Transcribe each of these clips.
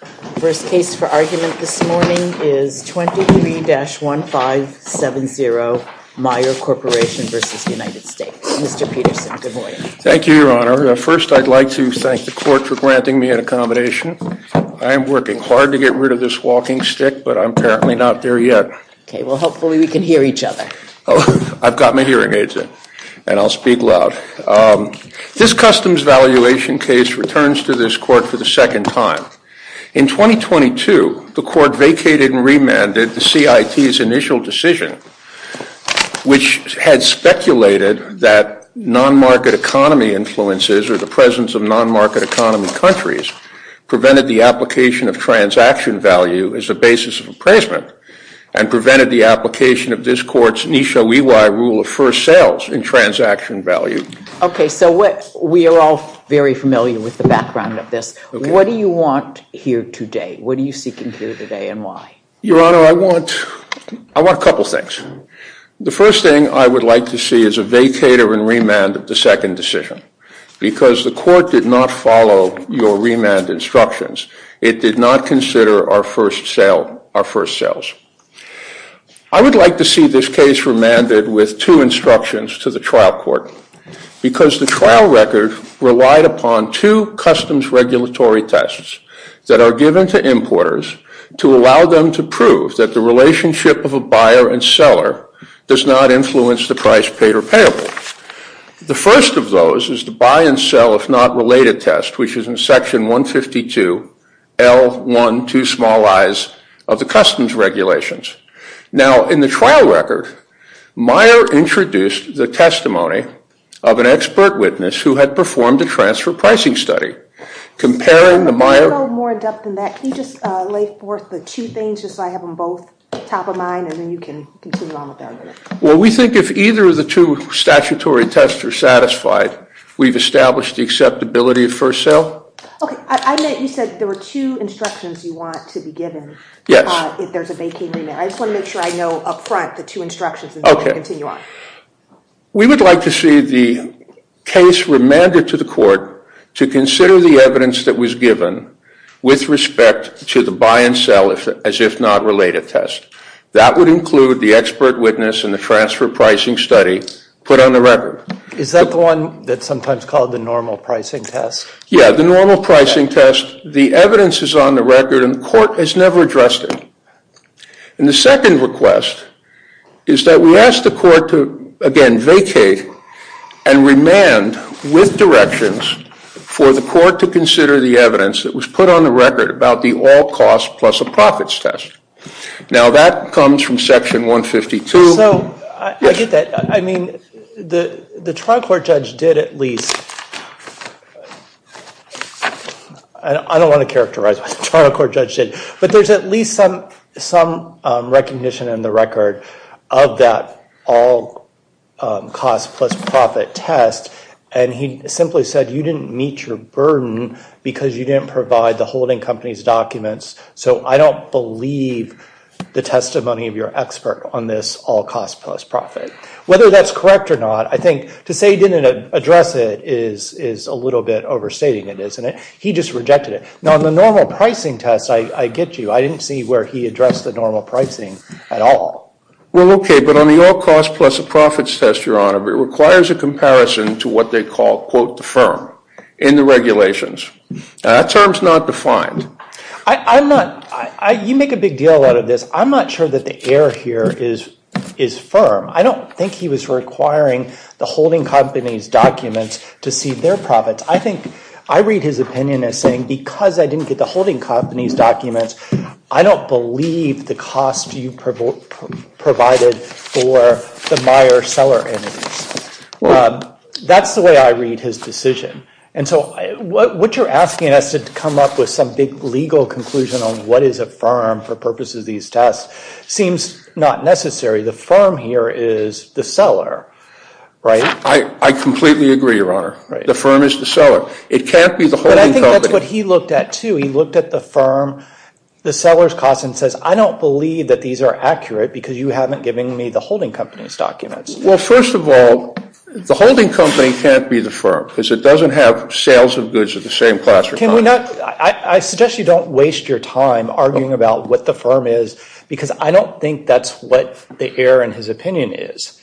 The first case for argument this morning is 23-1570 Meijer Corporation v. United States. Mr. Peterson, good morning. Thank you, Your Honor. First, I'd like to thank the court for granting me an accommodation. I am working hard to get rid of this walking stick, but I'm apparently not there yet. Okay, well, hopefully we can hear each other. I've got my hearing aids in, and I'll speak loud. This customs valuation case returns to this court for the second time. In 2022, the court vacated and remanded the CIT's initial decision, which had speculated that non-market economy influences or the presence of non-market economy countries prevented the application of transaction value as a basis of appraisement and prevented the application of this court's Nisho Iwai rule of first sales in transaction value. Okay, so we are all very familiar with the background of this. What do you want here today? What are you seeking here today, and why? Your Honor, I want a couple things. The first thing I would like to see is a vacater and remand of the second decision, because the court did not follow your remand instructions. It did not consider our first sales. I would like to see this case remanded with two instructions to the trial court, because the trial record relied upon two customs regulatory tests that are given to importers to allow them to prove that the relationship of a buyer and seller does not influence the price paid or payable. The first of those is the buy and sell if not related test, which is in section 152, L1, two small i's of the customs regulations. Now, in the trial record, Meyer introduced the testimony of an expert witness who had performed a transfer pricing study. I don't know more in depth than that. Can you just lay forth the two things just so I have them both top of mind, and then you can continue on with that. Well, we think if either of the two statutory tests are satisfied, we've established the acceptability of first sale. Okay. I meant you said there were two instructions you want to be given. If there's a vacating remand. I just want to make sure I know up front the two instructions and then I can continue on. Okay. We would like to see the case remanded to the court to consider the evidence that was given with respect to the buy and sell as if not related test. That would include the expert witness and the transfer pricing study put on the record. Is that the one that's sometimes called the normal pricing test? Yeah, the normal pricing test. The evidence is on the record and the court has never addressed it. And the second request is that we ask the court to, again, vacate and remand with directions for the court to consider the evidence that was put on the record about the all costs plus a profits test. Now that comes from section 152. So, I get that. I mean, the trial court judge did at least, I don't want to characterize what the trial court judge did, but there's at least some recognition in the record of that all costs plus profit test and he simply said you didn't meet your burden because you didn't provide the holding company's documents. So, I don't believe the testimony of your expert on this all costs plus profit. Whether that's correct or not, I think to say he didn't address it is a little bit overstating it, isn't it? He just rejected it. Now, on the normal pricing test, I get you. I didn't see where he addressed the normal pricing at all. Well, okay, but on the all costs plus a profits test, Your Honor, it requires a comparison to what they call, quote, the firm in the regulations. That term's not defined. You make a big deal out of this. I'm not sure that the air here is firm. I don't think he was requiring the holding company's documents to see their profits. I think I read his opinion as saying because I didn't get the holding company's documents, I don't believe the cost you provided for the Meijer seller entities. That's the way I read his decision. And so what you're asking us to come up with some big legal conclusion on what is a firm for purposes of these tests seems not necessary. The firm here is the seller, right? I completely agree, Your Honor. The firm is the seller. It can't be the holding company. But I think that's what he looked at, too. He looked at the firm, the seller's cost, and says, I don't believe that these are accurate because you haven't given me the holding company's documents. Well, first of all, the holding company can't be the firm because it doesn't have sales of goods of the same class. I suggest you don't waste your time arguing about what the firm is because I don't think that's what the error in his opinion is.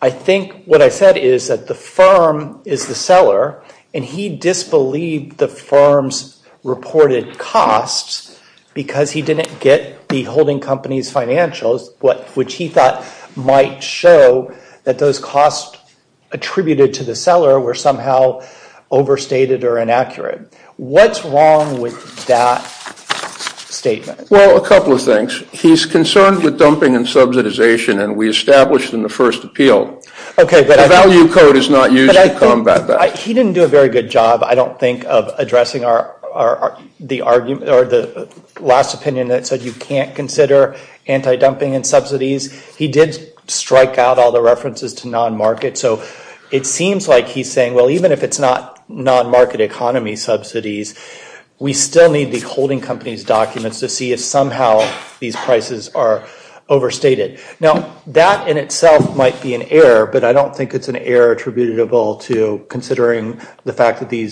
I think what I said is that the firm is the seller, and he disbelieved the firm's reported costs because he didn't get the holding company's financials, which he thought might show that those costs attributed to the seller were somehow overstated or inaccurate. What's wrong with that statement? Well, a couple of things. He's concerned with dumping and subsidization, and we established in the first appeal. The value code is not used to combat that. He didn't do a very good job, I don't think, of addressing the last opinion that said you can't consider anti-dumping and subsidies. He did strike out all the references to non-market, so it seems like he's saying, well, even if it's not non-market economy subsidies, we still need the holding company's documents to see if somehow these prices are overstated. Now, that in itself might be an error, but I don't think it's an error attributable to considering the fact that the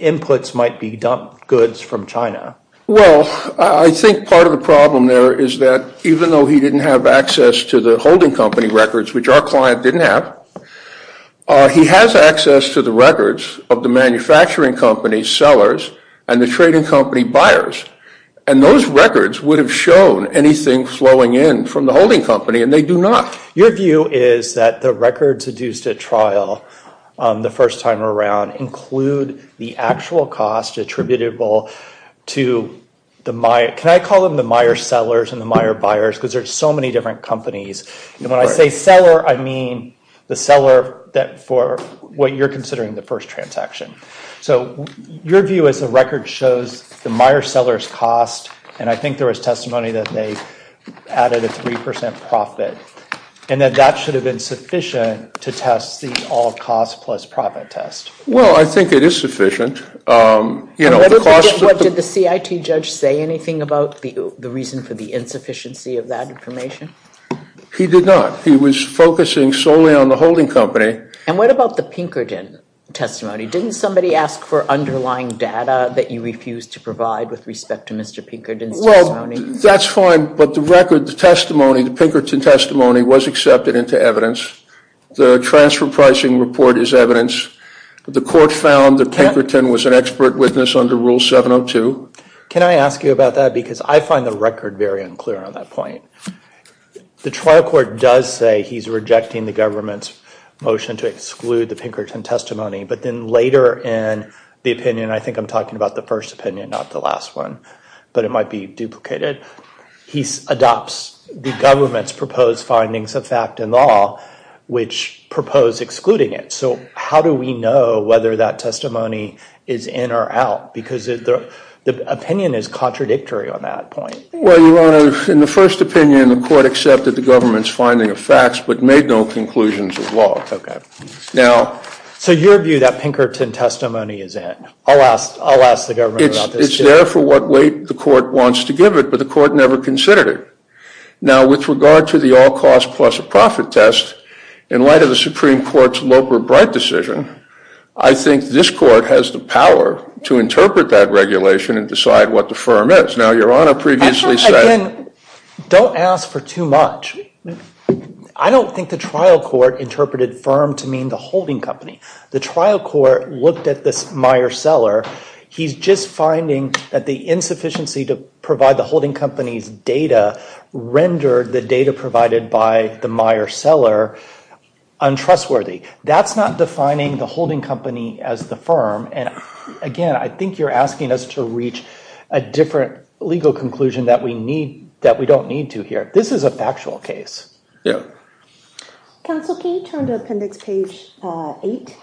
inputs might be dumped goods from China. Well, I think part of the problem there is that even though he didn't have access to the holding company records, which our client didn't have, he has access to the records of the manufacturing company's sellers and the trading company buyers. And those records would have shown anything flowing in from the holding company, and they do not. Your view is that the records deduced at trial the first time around include the actual cost attributable to the mire. Can I call them the mire sellers and the mire buyers, because there are so many different companies? And when I say seller, I mean the seller for what you're considering the first transaction. So your view is the record shows the mire sellers' cost, and I think there was testimony that they added a 3% profit, and that that should have been sufficient to test the all-cost-plus-profit test. Well, I think it is sufficient. What did the CIT judge say, anything about the reason for the insufficiency of that information? He did not. He was focusing solely on the holding company. And what about the Pinkerton testimony? Didn't somebody ask for underlying data that you refused to provide with respect to Mr. Pinkerton's testimony? Well, that's fine, but the record, the testimony, the Pinkerton testimony was accepted into evidence. The transfer pricing report is evidence. The court found that Pinkerton was an expert witness under Rule 702. Can I ask you about that? Because I find the record very unclear on that point. The trial court does say he's rejecting the government's motion to exclude the Pinkerton testimony. But then later in the opinion, I think I'm talking about the first opinion, not the last one. But it might be duplicated. He adopts the government's proposed findings of fact and law, which propose excluding it. So how do we know whether that testimony is in or out? Because the opinion is contradictory on that point. Well, you want to, in the first opinion, the court accepted the government's finding of facts but made no conclusions of law. So your view that Pinkerton testimony is in? I'll ask the government about this, too. It's there for what weight the court wants to give it, but the court never considered it. Now, with regard to the all costs plus a profit test, in light of the Supreme Court's Loper-Bright decision, I think this court has the power to interpret that regulation and decide what the firm is. Now, Your Honor previously said- I think, again, don't ask for too much. I don't think the trial court interpreted firm to mean the holding company. The trial court looked at this Meyer cellar. He's just finding that the insufficiency to provide the holding company's data rendered the data provided by the Meyer cellar untrustworthy. That's not defining the holding company as the firm, and again, I think you're asking us to reach a different legal conclusion that we don't need to here. This is a factual case. Yeah. Counsel, can you turn to appendix page 8?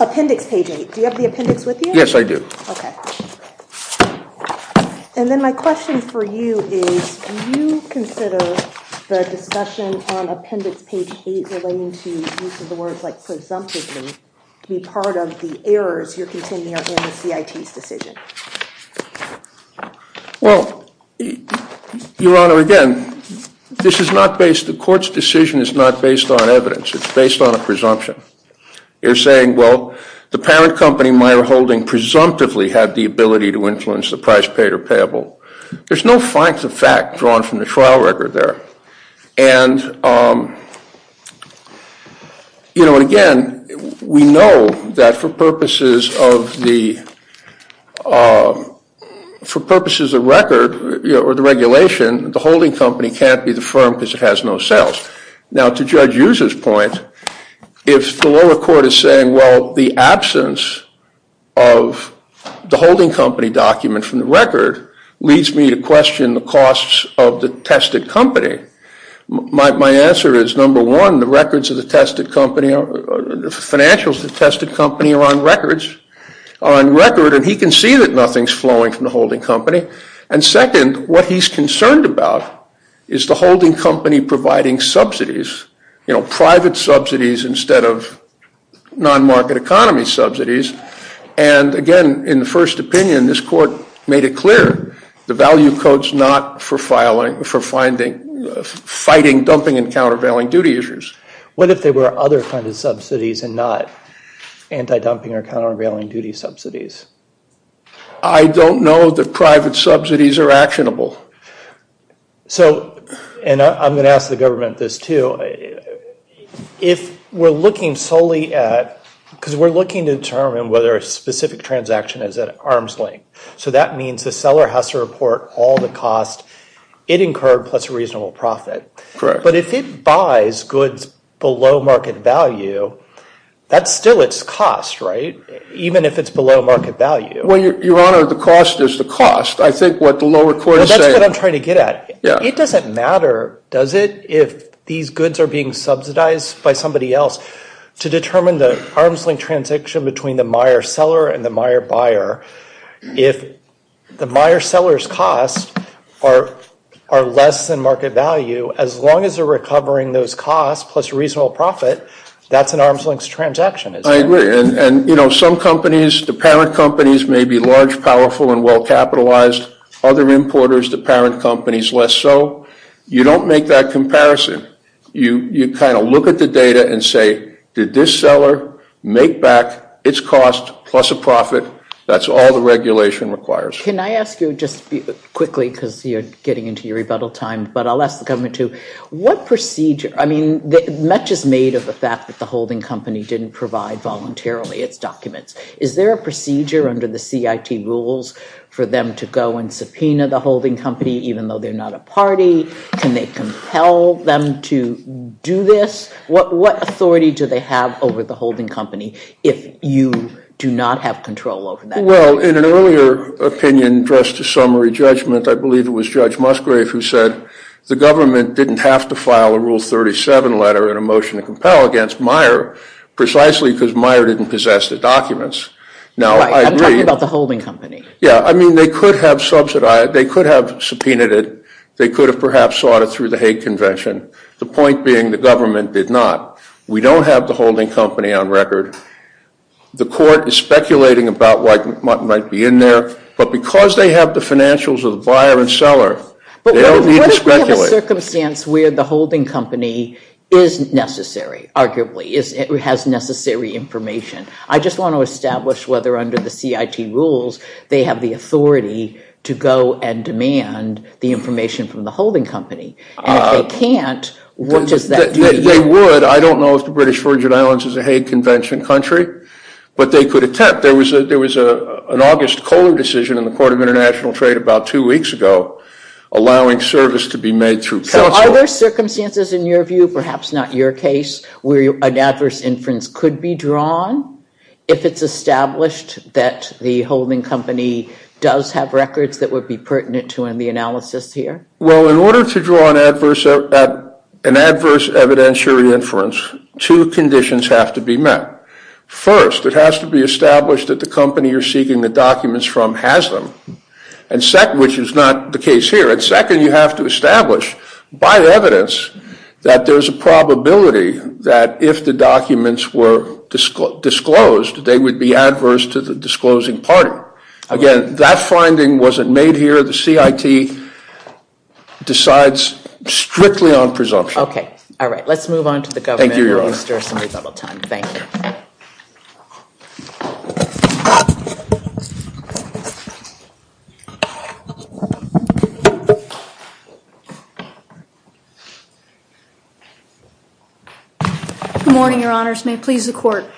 Appendix page 8. Do you have the appendix with you? Yes, I do. Okay. And then my question for you is, do you consider the discussion on appendix page 8 relating to use of the words like presumptively to be part of the errors you're containing in the CIT's decision? Well, Your Honor, again, this is not based- the court's decision is not based on evidence. It's based on a presumption. You're saying, well, the parent company, Meyer Holding, presumptively had the ability to influence the price paid or payable. There's no facts of fact drawn from the trial record there. And, you know, again, we know that for purposes of the- for purposes of record or the regulation, the holding company can't be the firm because it has no sales. Now, to Judge Usa's point, if the lower court is saying, well, the absence of the holding company document from the record leads me to question the costs of the tested company, my answer is, number one, the records of the tested company are- the financials of the tested company are on record. And he can see that nothing's flowing from the holding company. And second, what he's concerned about is the holding company providing subsidies, you know, private subsidies instead of non-market economy subsidies. And, again, in the first opinion, this court made it clear the value code's not for fighting, dumping, and countervailing duty issues. What if there were other kinds of subsidies and not anti-dumping or countervailing duty subsidies? I don't know that private subsidies are actionable. So- and I'm going to ask the government this, too. If we're looking solely at- because we're looking to determine whether a specific transaction is at arm's length, so that means the seller has to report all the cost it incurred plus a reasonable profit. But if it buys goods below market value, that's still its cost, right? Even if it's below market value. Well, Your Honor, the cost is the cost. I think what the lower court is saying- Well, that's what I'm trying to get at. It doesn't matter, does it, if these goods are being subsidized by somebody else. To determine the arm's length transaction between the mire seller and the mire buyer, if the mire seller's costs are less than market value, as long as they're recovering those costs plus a reasonable profit, that's an arm's length transaction. I agree. And some companies, the parent companies, may be large, powerful, and well-capitalized. Other importers, the parent companies, less so. You don't make that comparison. You kind of look at the data and say, did this seller make back its cost plus a profit? That's all the regulation requires. Can I ask you just quickly, because you're getting into your rebuttal time, but I'll ask the government too, what procedure- I mean, much is made of the fact that the holding company didn't provide voluntarily its documents. Is there a procedure under the CIT rules for them to go and subpoena the holding company, even though they're not a party? Can they compel them to do this? What authority do they have over the holding company if you do not have control over that? Well, in an earlier opinion, just a summary judgment, I believe it was Judge Musgrave who said the government didn't have to file a Rule 37 letter in a motion to compel against mire, precisely because mire didn't possess the documents. Now, I agree. I'm talking about the holding company. Yeah. I mean, they could have subsidized. They could have subpoenaed it. They could have perhaps sought it through the Hague Convention. The point being the government did not. We don't have the holding company on record. The court is speculating about what might be in there, but because they have the financials of the buyer and seller, they don't need to speculate. But what if we have a circumstance where the holding company is necessary, arguably, or has necessary information? I just want to establish whether under the CIT rules they have the authority to go and demand the information from the holding company. And if they can't, what does that do to you? They would. I don't know if the British Virgin Islands is a Hague Convention country, but they could attempt. There was an August Kohler decision in the Court of International Trade about two weeks ago allowing service to be made through counsel. So are there circumstances in your view, perhaps not your case, where an adverse inference could be drawn if it's established that the holding company does have records that would be pertinent to in the analysis here? Well, in order to draw an adverse evidentiary inference, two conditions have to be met. First, it has to be established that the company you're seeking the documents from has them, which is not the case here. And second, you have to establish by evidence that there is a probability that if the documents were disclosed, they would be adverse to the disclosing party. Again, that finding wasn't made here. The CIT decides strictly on presumption. OK. All right. Let's move on to the government. Thank you, Your Honor. We'll restore some rebuttal time. Thank you. Good morning, Your Honors. May it please the Court.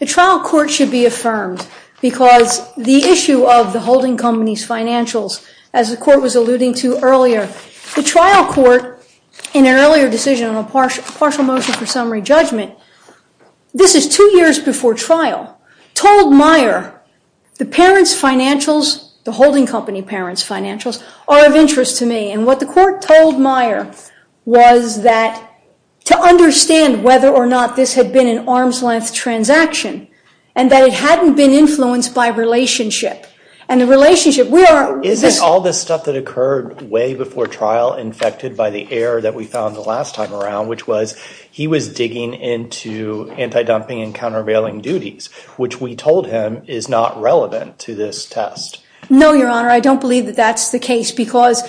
The trial court should be affirmed because the issue of the holding company's financials, as the Court was alluding to earlier, the trial court in an earlier decision on a partial motion for summary judgment, this is two years before trial, told Meyer, the parents' financials, the holding company parents' financials, are of interest to me. And what the Court told Meyer was that, to understand whether or not this had been an arm's length transaction, and that it hadn't been influenced by relationship. And the relationship, we are- Isn't all this stuff that occurred way before trial infected by the error that we found the last time around, which was he was digging into anti-dumping and countervailing duties, which we told him is not relevant to this test. No, Your Honor. I don't believe that that's the case because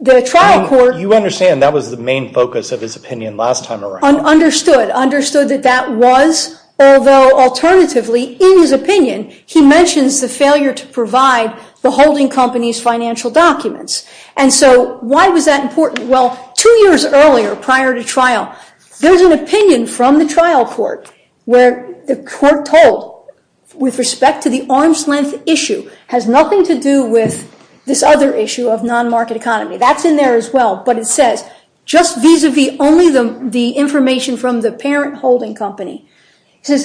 the trial court- I mean, you understand that was the main focus of his opinion last time around. Understood. Understood that that was, although alternatively, in his opinion, he mentions the failure to provide the holding company's financial documents. And so why was that important? Well, two years earlier, prior to trial, there was an opinion from the trial court where the court told, with respect to the arm's length issue, has nothing to do with this other issue of non-market economy. That's in there as well. But it says, just vis-a-vis only the information from the parent holding company.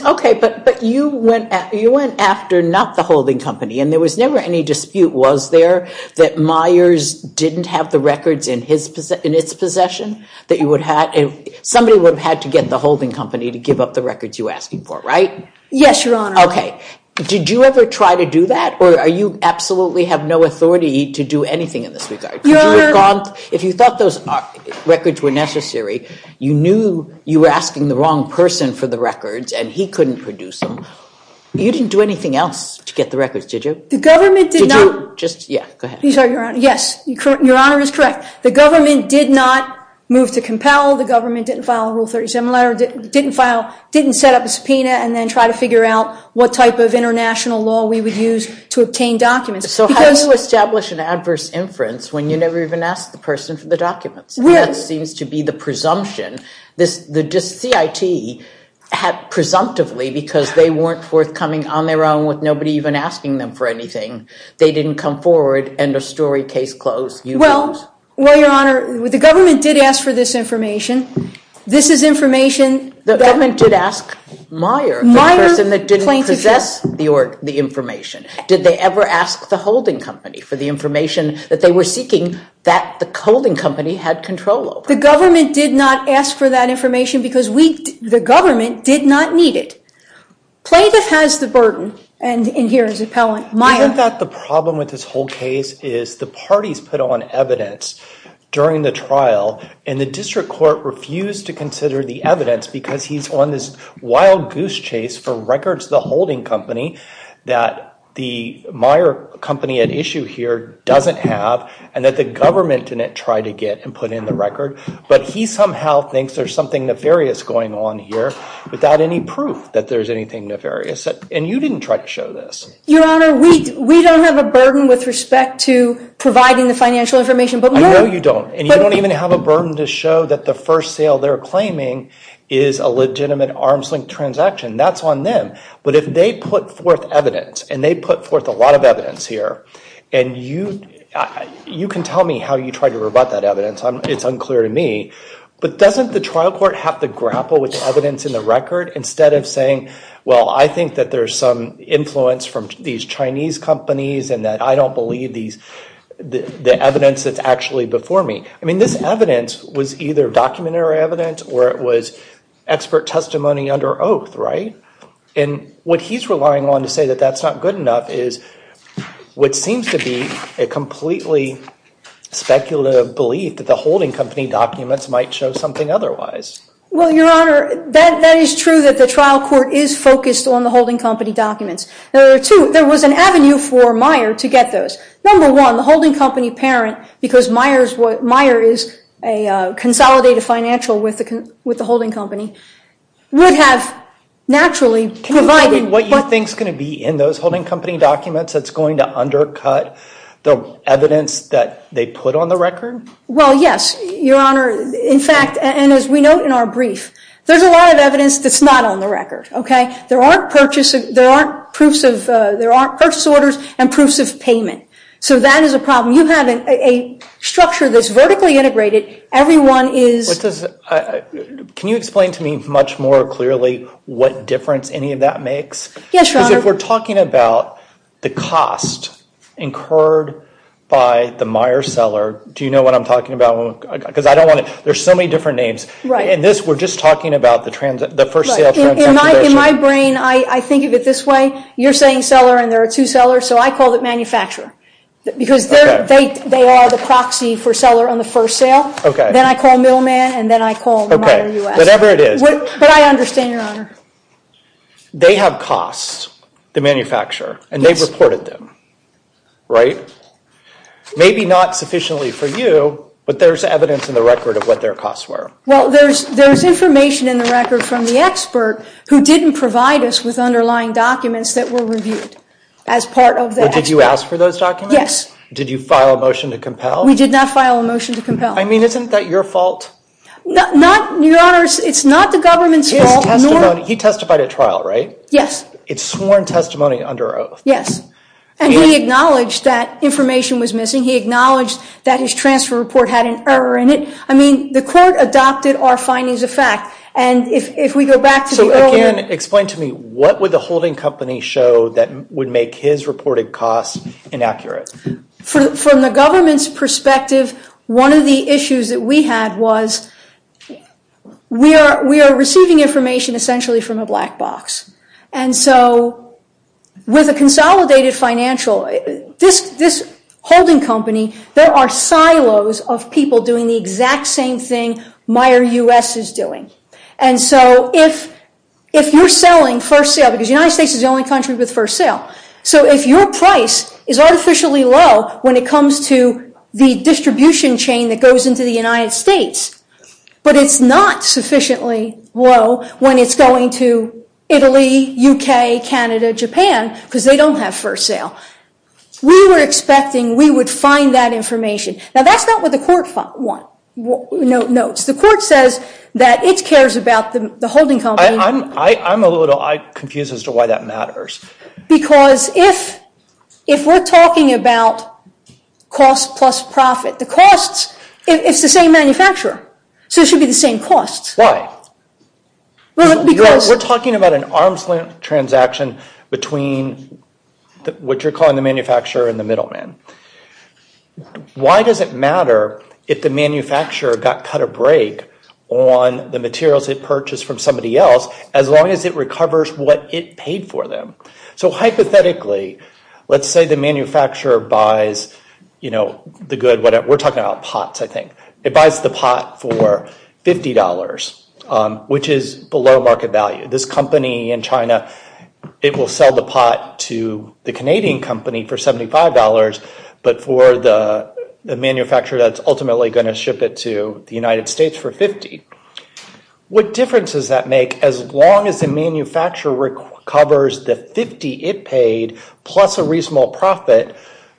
OK, but you went after not the holding company. And there was never any dispute, was there, that Myers didn't have the records in its possession? Somebody would have had to get the holding company to give up the records you're asking for, right? Yes, Your Honor. OK, did you ever try to do that? Or you absolutely have no authority to do anything in this regard? Your Honor. If you thought those records were necessary, you knew you were asking the wrong person for the records, and he couldn't produce them. You didn't do anything else to get the records, did you? The government did not. Did you? Yeah, go ahead. Yes, Your Honor is correct. The government did not move to compel. The government didn't file a Rule 37 letter, didn't set up a subpoena, and then try to figure out what type of international law we would use to obtain documents. So how do you establish an adverse inference when you never even asked the person for the documents? That seems to be the presumption. The CIT had presumptively, because they weren't forthcoming on their own with nobody even asking them for anything, they didn't come forward, end of story, case closed, you lose. Well, Your Honor, the government did ask for this information. This is information that- The government did ask Myers. The person that didn't possess the information. Did they ever ask the holding company for the information that they were seeking that the holding company had control over? The government did not ask for that information because the government did not need it. Plaintiff has the burden, and in here is appellant Myers. Isn't that the problem with this whole case is the parties put on evidence during the trial, and the district court refused to consider the evidence because he's on this wild goose chase for records of the holding company that the Meyer company at issue here doesn't have and that the government didn't try to get and put in the record. But he somehow thinks there's something nefarious going on here without any proof that there's anything nefarious. And you didn't try to show this. Your Honor, we don't have a burden with respect to providing the financial information. I know you don't. And you don't even have a burden to show that the first sale they're claiming is a legitimate arm's length transaction. That's on them. But if they put forth evidence, and they put forth a lot of evidence here, and you can tell me how you tried to rebut that evidence. It's unclear to me. But doesn't the trial court have to grapple with the evidence in the record instead of saying, well, I think that there's some influence from these Chinese companies and that I don't believe the evidence that's actually before me. I mean, this evidence was either documentary evidence or it was expert testimony under oath, right? And what he's relying on to say that that's not good enough is what seems to be a completely speculative belief that the holding company documents might show something otherwise. Well, Your Honor, that is true that the trial court is focused on the holding company documents. There was an avenue for Meyer to get those. Number one, the holding company parent, because Meyer is a consolidated financial with the holding company, would have naturally provided what you think's going to be in those holding company documents that's going to undercut the evidence that they put on the record? Well, yes, Your Honor. In fact, and as we note in our brief, there's a lot of evidence that's not on the record, OK? There aren't purchase orders and proofs of payment. So that is a problem. You have a structure that's vertically integrated. Everyone is. Can you explain to me much more clearly what difference any of that makes? Yes, Your Honor. Because if we're talking about the cost incurred by the Meyer seller, do you know what I'm talking about? Because I don't want to. There's so many different names. In this, we're just talking about the first sale transaction. In my brain, I think of it this way. You're saying seller, and there are two sellers. So I call it manufacturer. Because they are the proxy for seller on the first sale. Then I call middleman, and then I call Meyer US. Whatever it is. But I understand, Your Honor. They have costs, the manufacturer. And they've reported them, right? Maybe not sufficiently for you, but there's evidence in the record of what their costs were. Well, there's information in the record from the expert who didn't provide us with underlying documents that were reviewed as part of that. But did you ask for those documents? Yes. Did you file a motion to compel? We did not file a motion to compel. I mean, isn't that your fault? Your Honor, it's not the government's fault. His testimony. He testified at trial, right? Yes. It's sworn testimony under oath. Yes. And he acknowledged that information was missing. He acknowledged that his transfer report had an error in it. I mean, the court adopted our findings of fact. And if we go back to the earlier. Can you explain to me what would the holding company show that would make his reported costs inaccurate? From the government's perspective, one of the issues that we had was we are receiving information essentially from a black box. And so with a consolidated financial, this holding company, there are silos of people doing the exact same thing Meijer US is doing. And so if you're selling first sale, because the United States is the only country with first sale. So if your price is artificially low when it comes to the distribution chain that goes into the United States, but it's not sufficiently low when it's going to Italy, UK, Canada, Japan, because they don't have first sale. We were expecting we would find that information. Now, that's not what the court notes. The court says that it cares about the holding company. I'm a little confused as to why that matters. Because if we're talking about cost plus profit, the costs, it's the same manufacturer. So it should be the same costs. Why? Well, because. We're talking about an arm's length transaction between what you're calling the manufacturer and the middleman. Why does it matter if the manufacturer got cut or break on the materials it purchased from somebody else as long as it recovers what it paid for them? So hypothetically, let's say the manufacturer buys the good. We're talking about pots, I think. It buys the pot for $50, which is below market value. This company in China, it will sell the pot to the Canadian company for $75, but for the manufacturer that's ultimately going to ship it to the United States for $50. What difference does that make as long as the manufacturer recovers the $50 it paid plus a reasonable profit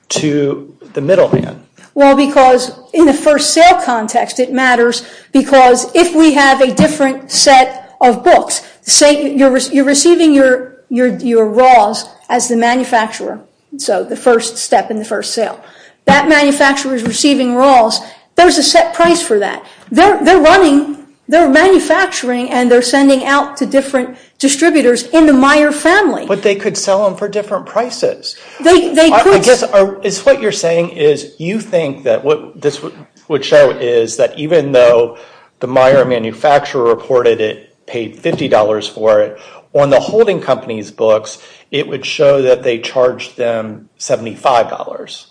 to the middleman? Well, because in the first sale context, it matters because if we have a different set of books, you're receiving your raws as the manufacturer, so the first step in the first sale. That manufacturer is receiving raws. There's a set price for that. They're running, they're manufacturing, and they're sending out to different distributors in the Meyer family. But they could sell them for different prices. They could. I guess what you're saying is you think that what this would show is that even though the Meyer manufacturer reported it paid $50 for it, on the holding company's books, it would show that they charged them $75.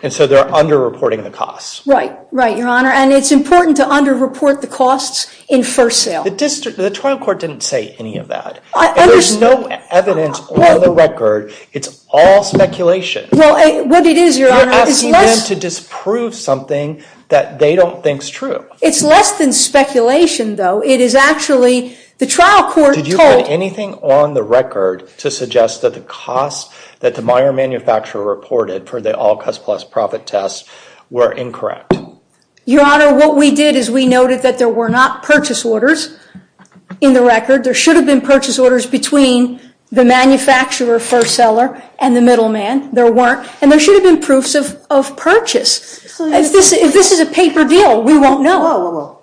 And so they're under-reporting the costs. Right, right, Your Honor. And it's important to under-report the costs in first sale. The district, the trial court didn't say any of that. I understand. There's no evidence on the record. It's all speculation. Well, what it is, Your Honor, is less. You're asking them to disprove something that they don't think is true. It's less than speculation, though. It is actually, the trial court told- Did you put anything on the record to suggest that the costs that the Meyer manufacturer reported for the all-cost plus profit test were incorrect? Your Honor, what we did is we noted that there were not purchase orders in the record. There should have been purchase orders between the manufacturer, first seller, and the middleman. There weren't. And there should have been proofs of purchase. If this is a paper deal, we won't know. Whoa, whoa, whoa.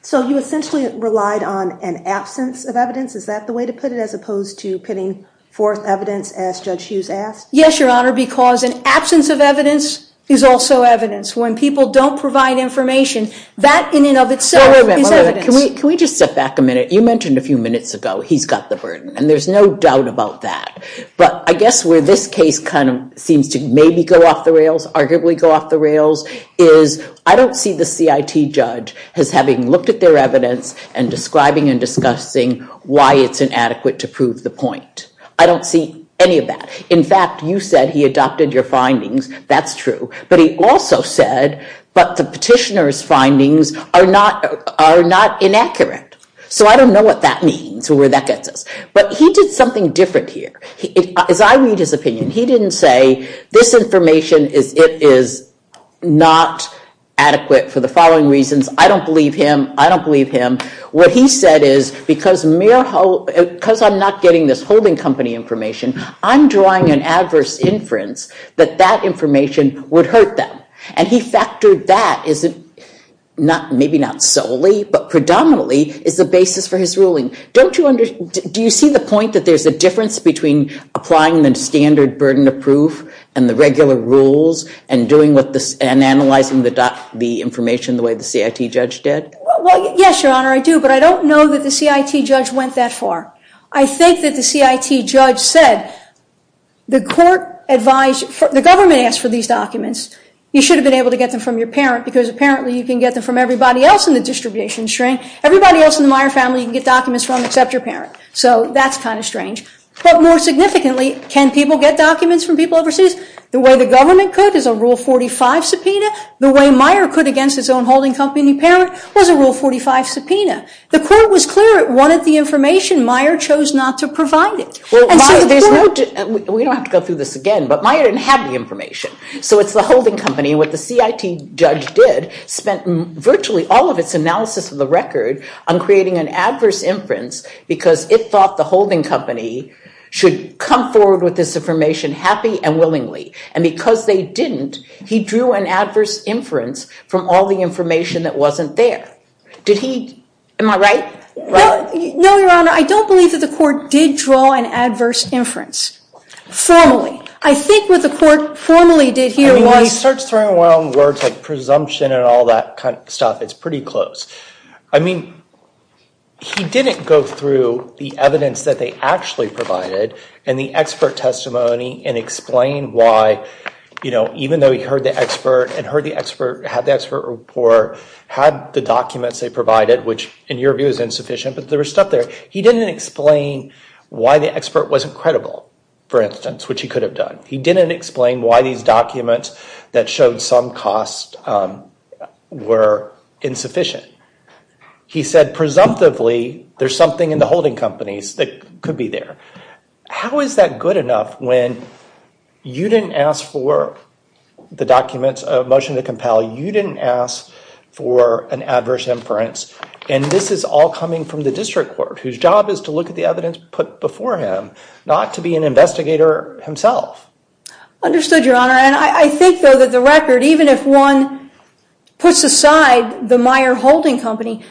So you essentially relied on an absence of evidence? Is that the way to put it, as opposed to pitting forth evidence, as Judge Hughes asked? Yes, Your Honor, because an absence of evidence is also evidence. When people don't provide information, that in and of itself is evidence. Wait a minute, wait a minute. Can we just step back a minute? You mentioned a few minutes ago, he's got the burden. And there's no doubt about that. But I guess where this case kind of seems to maybe go off the rails, arguably go off the rails, is I don't see the CIT judge as having looked at their evidence and describing and discussing why it's inadequate to prove the point. I don't see any of that. In fact, you said he adopted your findings. That's true. But he also said, but the petitioner's findings are not inaccurate. So I don't know what that means or where that gets us. But he did something different here. As I read his opinion, he didn't say, this information, it is not adequate for the following reasons. I don't believe him. I don't believe him. What he said is, because I'm not getting this holding company information, I'm drawing an adverse inference that that information would hurt them. And he factored that, maybe not solely, but predominantly, is the basis for his ruling. Do you see the point that there's a difference between applying the standard burden of proof, and the regular rules, and analyzing the information the way the CIT judge did? Yes, Your Honor, I do. But I don't know that the CIT judge went that far. I think that the CIT judge said, the government asked for these documents. You should have been able to get them from your parent, because apparently you can get them from everybody else in the distribution stream. Everybody else in the Meyer family you can get documents from except your parent. So that's kind of strange. But more significantly, can people get documents from people overseas? The way the government could is a Rule 45 subpoena. The way Meyer could against his own holding company parent was a Rule 45 subpoena. The court was clear it wanted the information. Meyer chose not to provide it. We don't have to go through this again, but Meyer didn't have the information. So it's the holding company. What the CIT judge did, spent virtually all of its analysis of the record on creating an adverse inference, because it thought the holding company should come forward with this information happy and willingly. And because they didn't, he drew an adverse inference from all the information that wasn't there. Did he? Am I right? No, Your Honor. I don't believe that the court did draw an adverse inference. Formally. I think what the court formally did here was. I mean, he starts throwing around words like presumption and all that kind of stuff. It's pretty close. I mean, he didn't go through the evidence that they actually provided and the expert testimony and explain why, even though he heard the expert and had the expert report, had the documents they provided, which in your view is insufficient, but there was stuff there. He didn't explain why the expert wasn't credible, for instance, which he could have done. He didn't explain why these documents that showed some cost were insufficient. He said, presumptively, there's something in the holding companies that could be there. How is that good enough when you didn't ask for the documents, a motion to compel, you didn't ask for an adverse inference, and this is all coming from the district court, whose job is to look at the evidence put before him, not to be an investigator himself. Understood, Your Honor. And I think, though, that the record, even if one puts aside the Meyer Holding Company,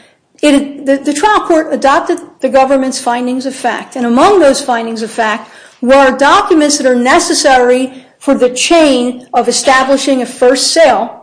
the trial court adopted the government's findings of fact. And among those findings of fact were documents that are necessary for the chain of establishing a first sale.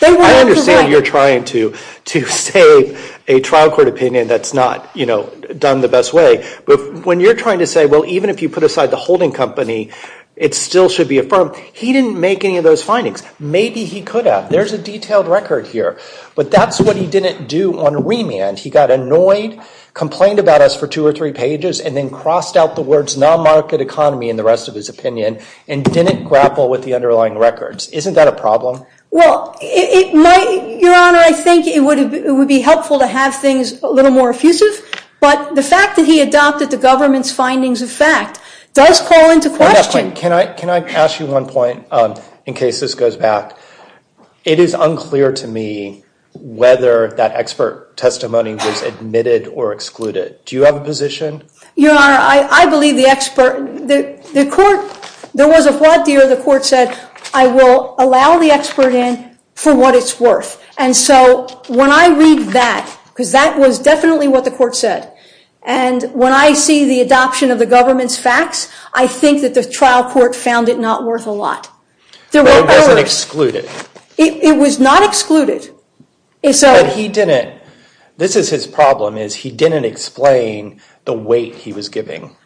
I understand you're trying to save a trial court opinion that's not done the best way. But when you're trying to say, well, even if you put aside the holding company, it still should be affirmed. He didn't make any of those findings. Maybe he could have. There's a detailed record here. But that's what he didn't do on remand. He got annoyed, complained about us for two or three pages, and then crossed out the words non-market economy and the rest of his opinion, and didn't grapple with the underlying records. Isn't that a problem? Well, Your Honor, I think it would be helpful to have things a little more effusive. But the fact that he adopted the government's findings of fact does call into question. Can I ask you one point in case this goes back? It is unclear to me whether that expert testimony was admitted or excluded. Do you have a position? Your Honor, I believe the expert. There was a flat deal. The court said, I will allow the expert in for what it's worth. And so when I read that, because that was definitely what the court said, and when I see the adoption of the government's facts, I think that the trial court found it not worth a lot. But it wasn't excluded. It was not excluded. But he didn't. This is his problem, is he didn't explain the weight he was giving.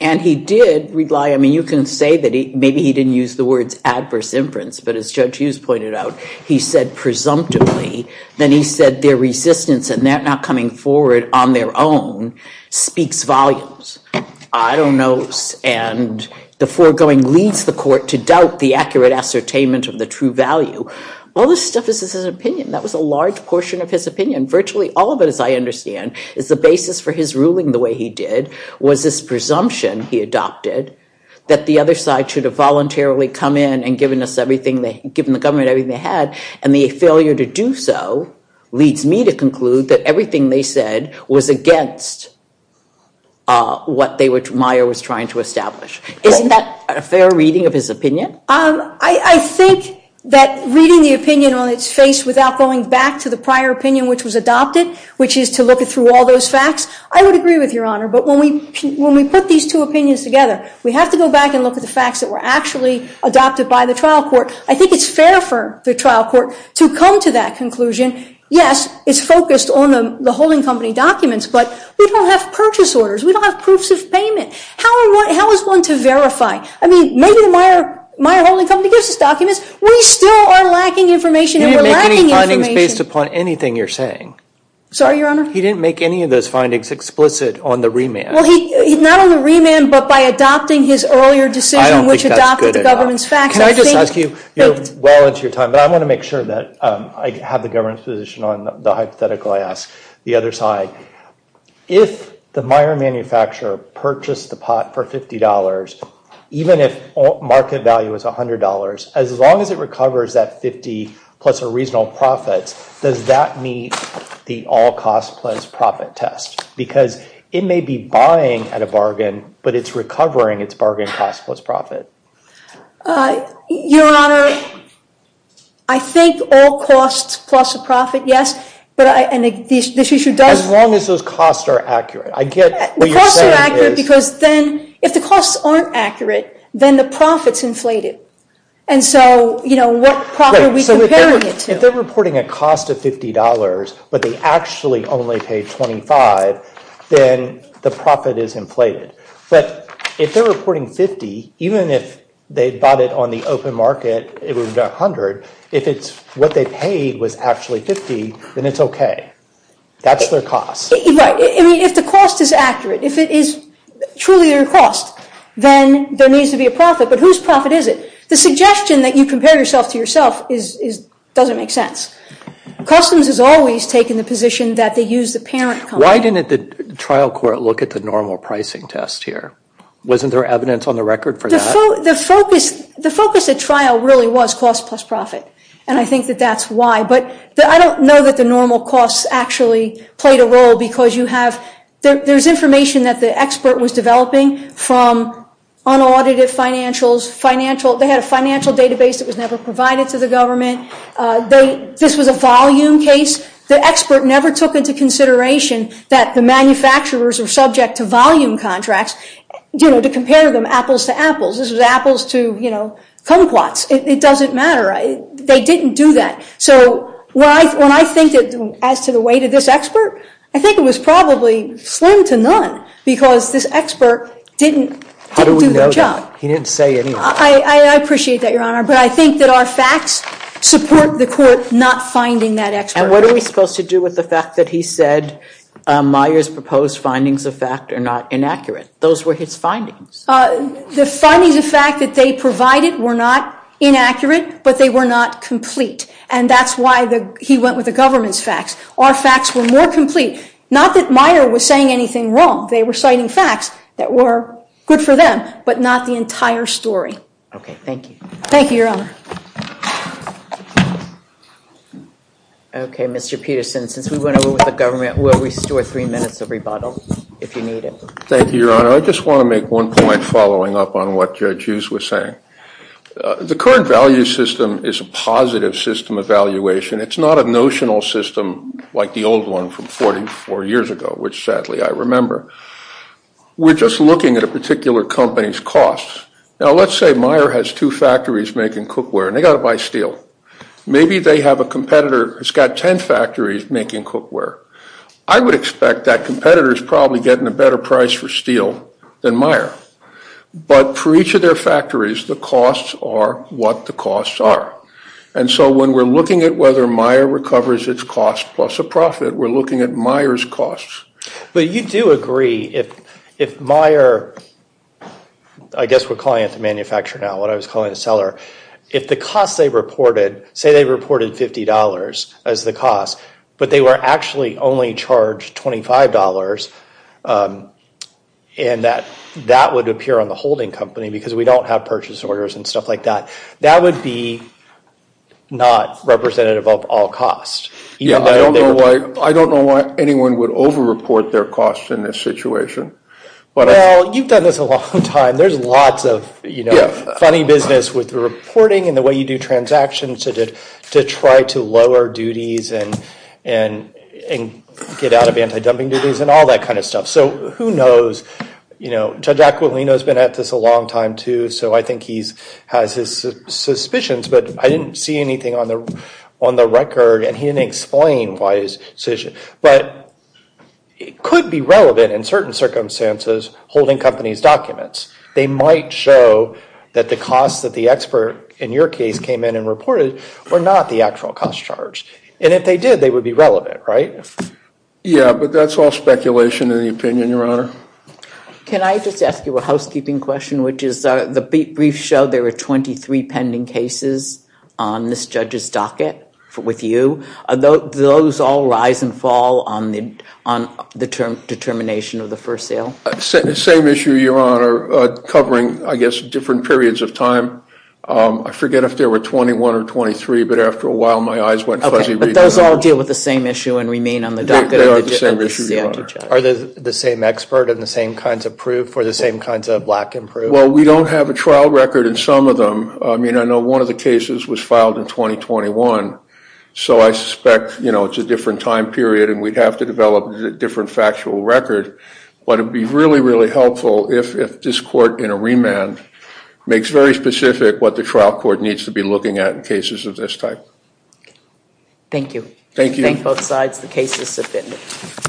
And he did rely. I mean, you can say that maybe he didn't use the words adverse inference. But as Judge Hughes pointed out, he said presumptively. Then he said their resistance and that not coming forward on their own speaks volumes. I don't know. And the foregoing leads the court to doubt the accurate ascertainment of the true value. All this stuff is his opinion. That was a large portion of his opinion. Virtually all of it, as I understand, is the basis for his ruling the way he did, was this presumption he adopted that the other side should have voluntarily come in and given the government everything they had. And the failure to do so leads me to conclude that everything they said was against what Meyer was trying to establish. Isn't that a fair reading of his opinion? I think that reading the opinion on its face without going back to the prior opinion which was adopted, which is to look through all those facts, I would agree with your honor. But when we put these two opinions together, we have to go back and look at the facts that were actually adopted by the trial court. I think it's fair for the trial court to come to that conclusion. Yes, it's focused on the holding company documents, but we don't have purchase orders. We don't have proofs of payment. How is one to verify? I mean, maybe the Meyer holding company gives us documents. We still are lacking information and we're lacking information. He didn't make any findings based upon anything you're saying. Sorry, your honor? He didn't make any of those findings explicit on the remand. Well, not on the remand, but by adopting his earlier decision which adopted the government's facts. Can I just ask you, well into your time, but I want to make sure that I have the government's position on the hypothetical, I ask the other side. If the Meyer manufacturer purchased the pot for $50, even if market value is $100, as long as it recovers that 50 plus a reasonable profit, does that meet the all cost plus profit test? Because it may be buying at a bargain, but it's recovering its bargain cost plus profit. Your honor, I think all costs plus a profit, yes. And this issue does. As long as those costs are accurate. I get what you're saying is. The costs are accurate because then, if the costs aren't accurate, then the profit's inflated. And so what profit are we comparing it to? If they're reporting a cost of $50, but they actually only pay $25, then the profit is inflated. But if they're reporting $50, even if they bought it on the open market, it was $100, if what they paid was actually $50, then it's OK. That's their cost. Right. If the cost is accurate, if it is truly their cost, then there needs to be a profit. But whose profit is it? The suggestion that you compare yourself to yourself doesn't make sense. Customs has always taken the position that they use the parent company. Why didn't the trial court look at the normal pricing test here? Wasn't there evidence on the record for that? The focus at trial really was cost plus profit. And I think that that's why. But I don't know that the normal costs actually played a role, because there's information that the expert was developing from unaudited financials. They had a financial database that was never provided to the government. This was a volume case. The expert never took into consideration that the manufacturers were subject to volume contracts to compare them apples to apples. This was apples to kumquats. It doesn't matter. They didn't do that. So when I think as to the weight of this expert, I think it was probably slim to none, because this expert didn't do the job. How do we know that? He didn't say anything. I appreciate that, Your Honor. But I think that our facts support the court not finding that expert. And what are we supposed to do with the fact that he said Meyer's proposed findings of fact are not inaccurate? Those were his findings. The findings of fact that they provided were not inaccurate, but they were not complete. And that's why he went with the government's facts. Our facts were more complete. Not that Meyer was saying anything wrong. They were citing facts that were good for them, but not the entire story. OK, thank you. Thank you, Your Honor. OK, Mr. Peterson, since we went over with the government, we'll restore three minutes of rebuttal if you need it. Thank you, Your Honor. I just want to make one point following up on what Judge Hughes was saying. The current value system is a positive system of valuation. It's not a notional system like the old one from 44 years ago, which sadly I remember. We're just looking at a particular company's costs. Now, let's say Meyer has two factories making kumquats and they've got to buy steel. Maybe they have a competitor that's got 10 factories making kumquat. I would expect that competitor is probably getting a better price for steel than Meyer. But for each of their factories, the costs are what the costs are. And so when we're looking at whether Meyer recovers its costs plus a profit, we're looking at Meyer's costs. But you do agree if Meyer, I guess we're calling it the manufacturer now, what if the costs they reported, say they reported $50 as the cost, but they were actually only charged $25 and that would appear on the holding company because we don't have purchase orders and stuff like that. That would be not representative of all costs. I don't know why anyone would over-report their costs in this situation. Well, you've done this a long time. There's lots of funny business with the reporting and the way you do transactions to try to lower duties and get out of anti-dumping duties and all that kind of stuff. So who knows? Judge Aquilino has been at this a long time too, so I think he has his suspicions. But I didn't see anything on the record and he didn't explain why his decision. But it could be relevant in certain circumstances holding companies' documents. They might show that the costs that the expert in your case came in and reported were not the actual cost charged. And if they did, they would be relevant, right? Yeah, but that's all speculation in the opinion, Your Honor. Can I just ask you a housekeeping question, which is the briefs show there were 23 pending cases on this judge's docket with you. Those all rise and fall on the term determination of the first sale? Same issue, Your Honor, covering, I guess, different periods of time. I forget if there were 21 or 23, but after a while, my eyes went fuzzy. But those all deal with the same issue and remain on the docket? They are the same issue, Your Honor. Are they the same expert and the same kinds of proof or the same kinds of black and proof? Well, we don't have a trial record in some of them. I mean, I know one of the cases was filed in 2021, so I suspect it's a different time period and we'd have to develop a different factual record. But it would be really, really helpful if this court in a remand makes very specific what the trial court needs to be looking at in cases of this type. Thank you. Thank you. Thank both sides. The case is submitted.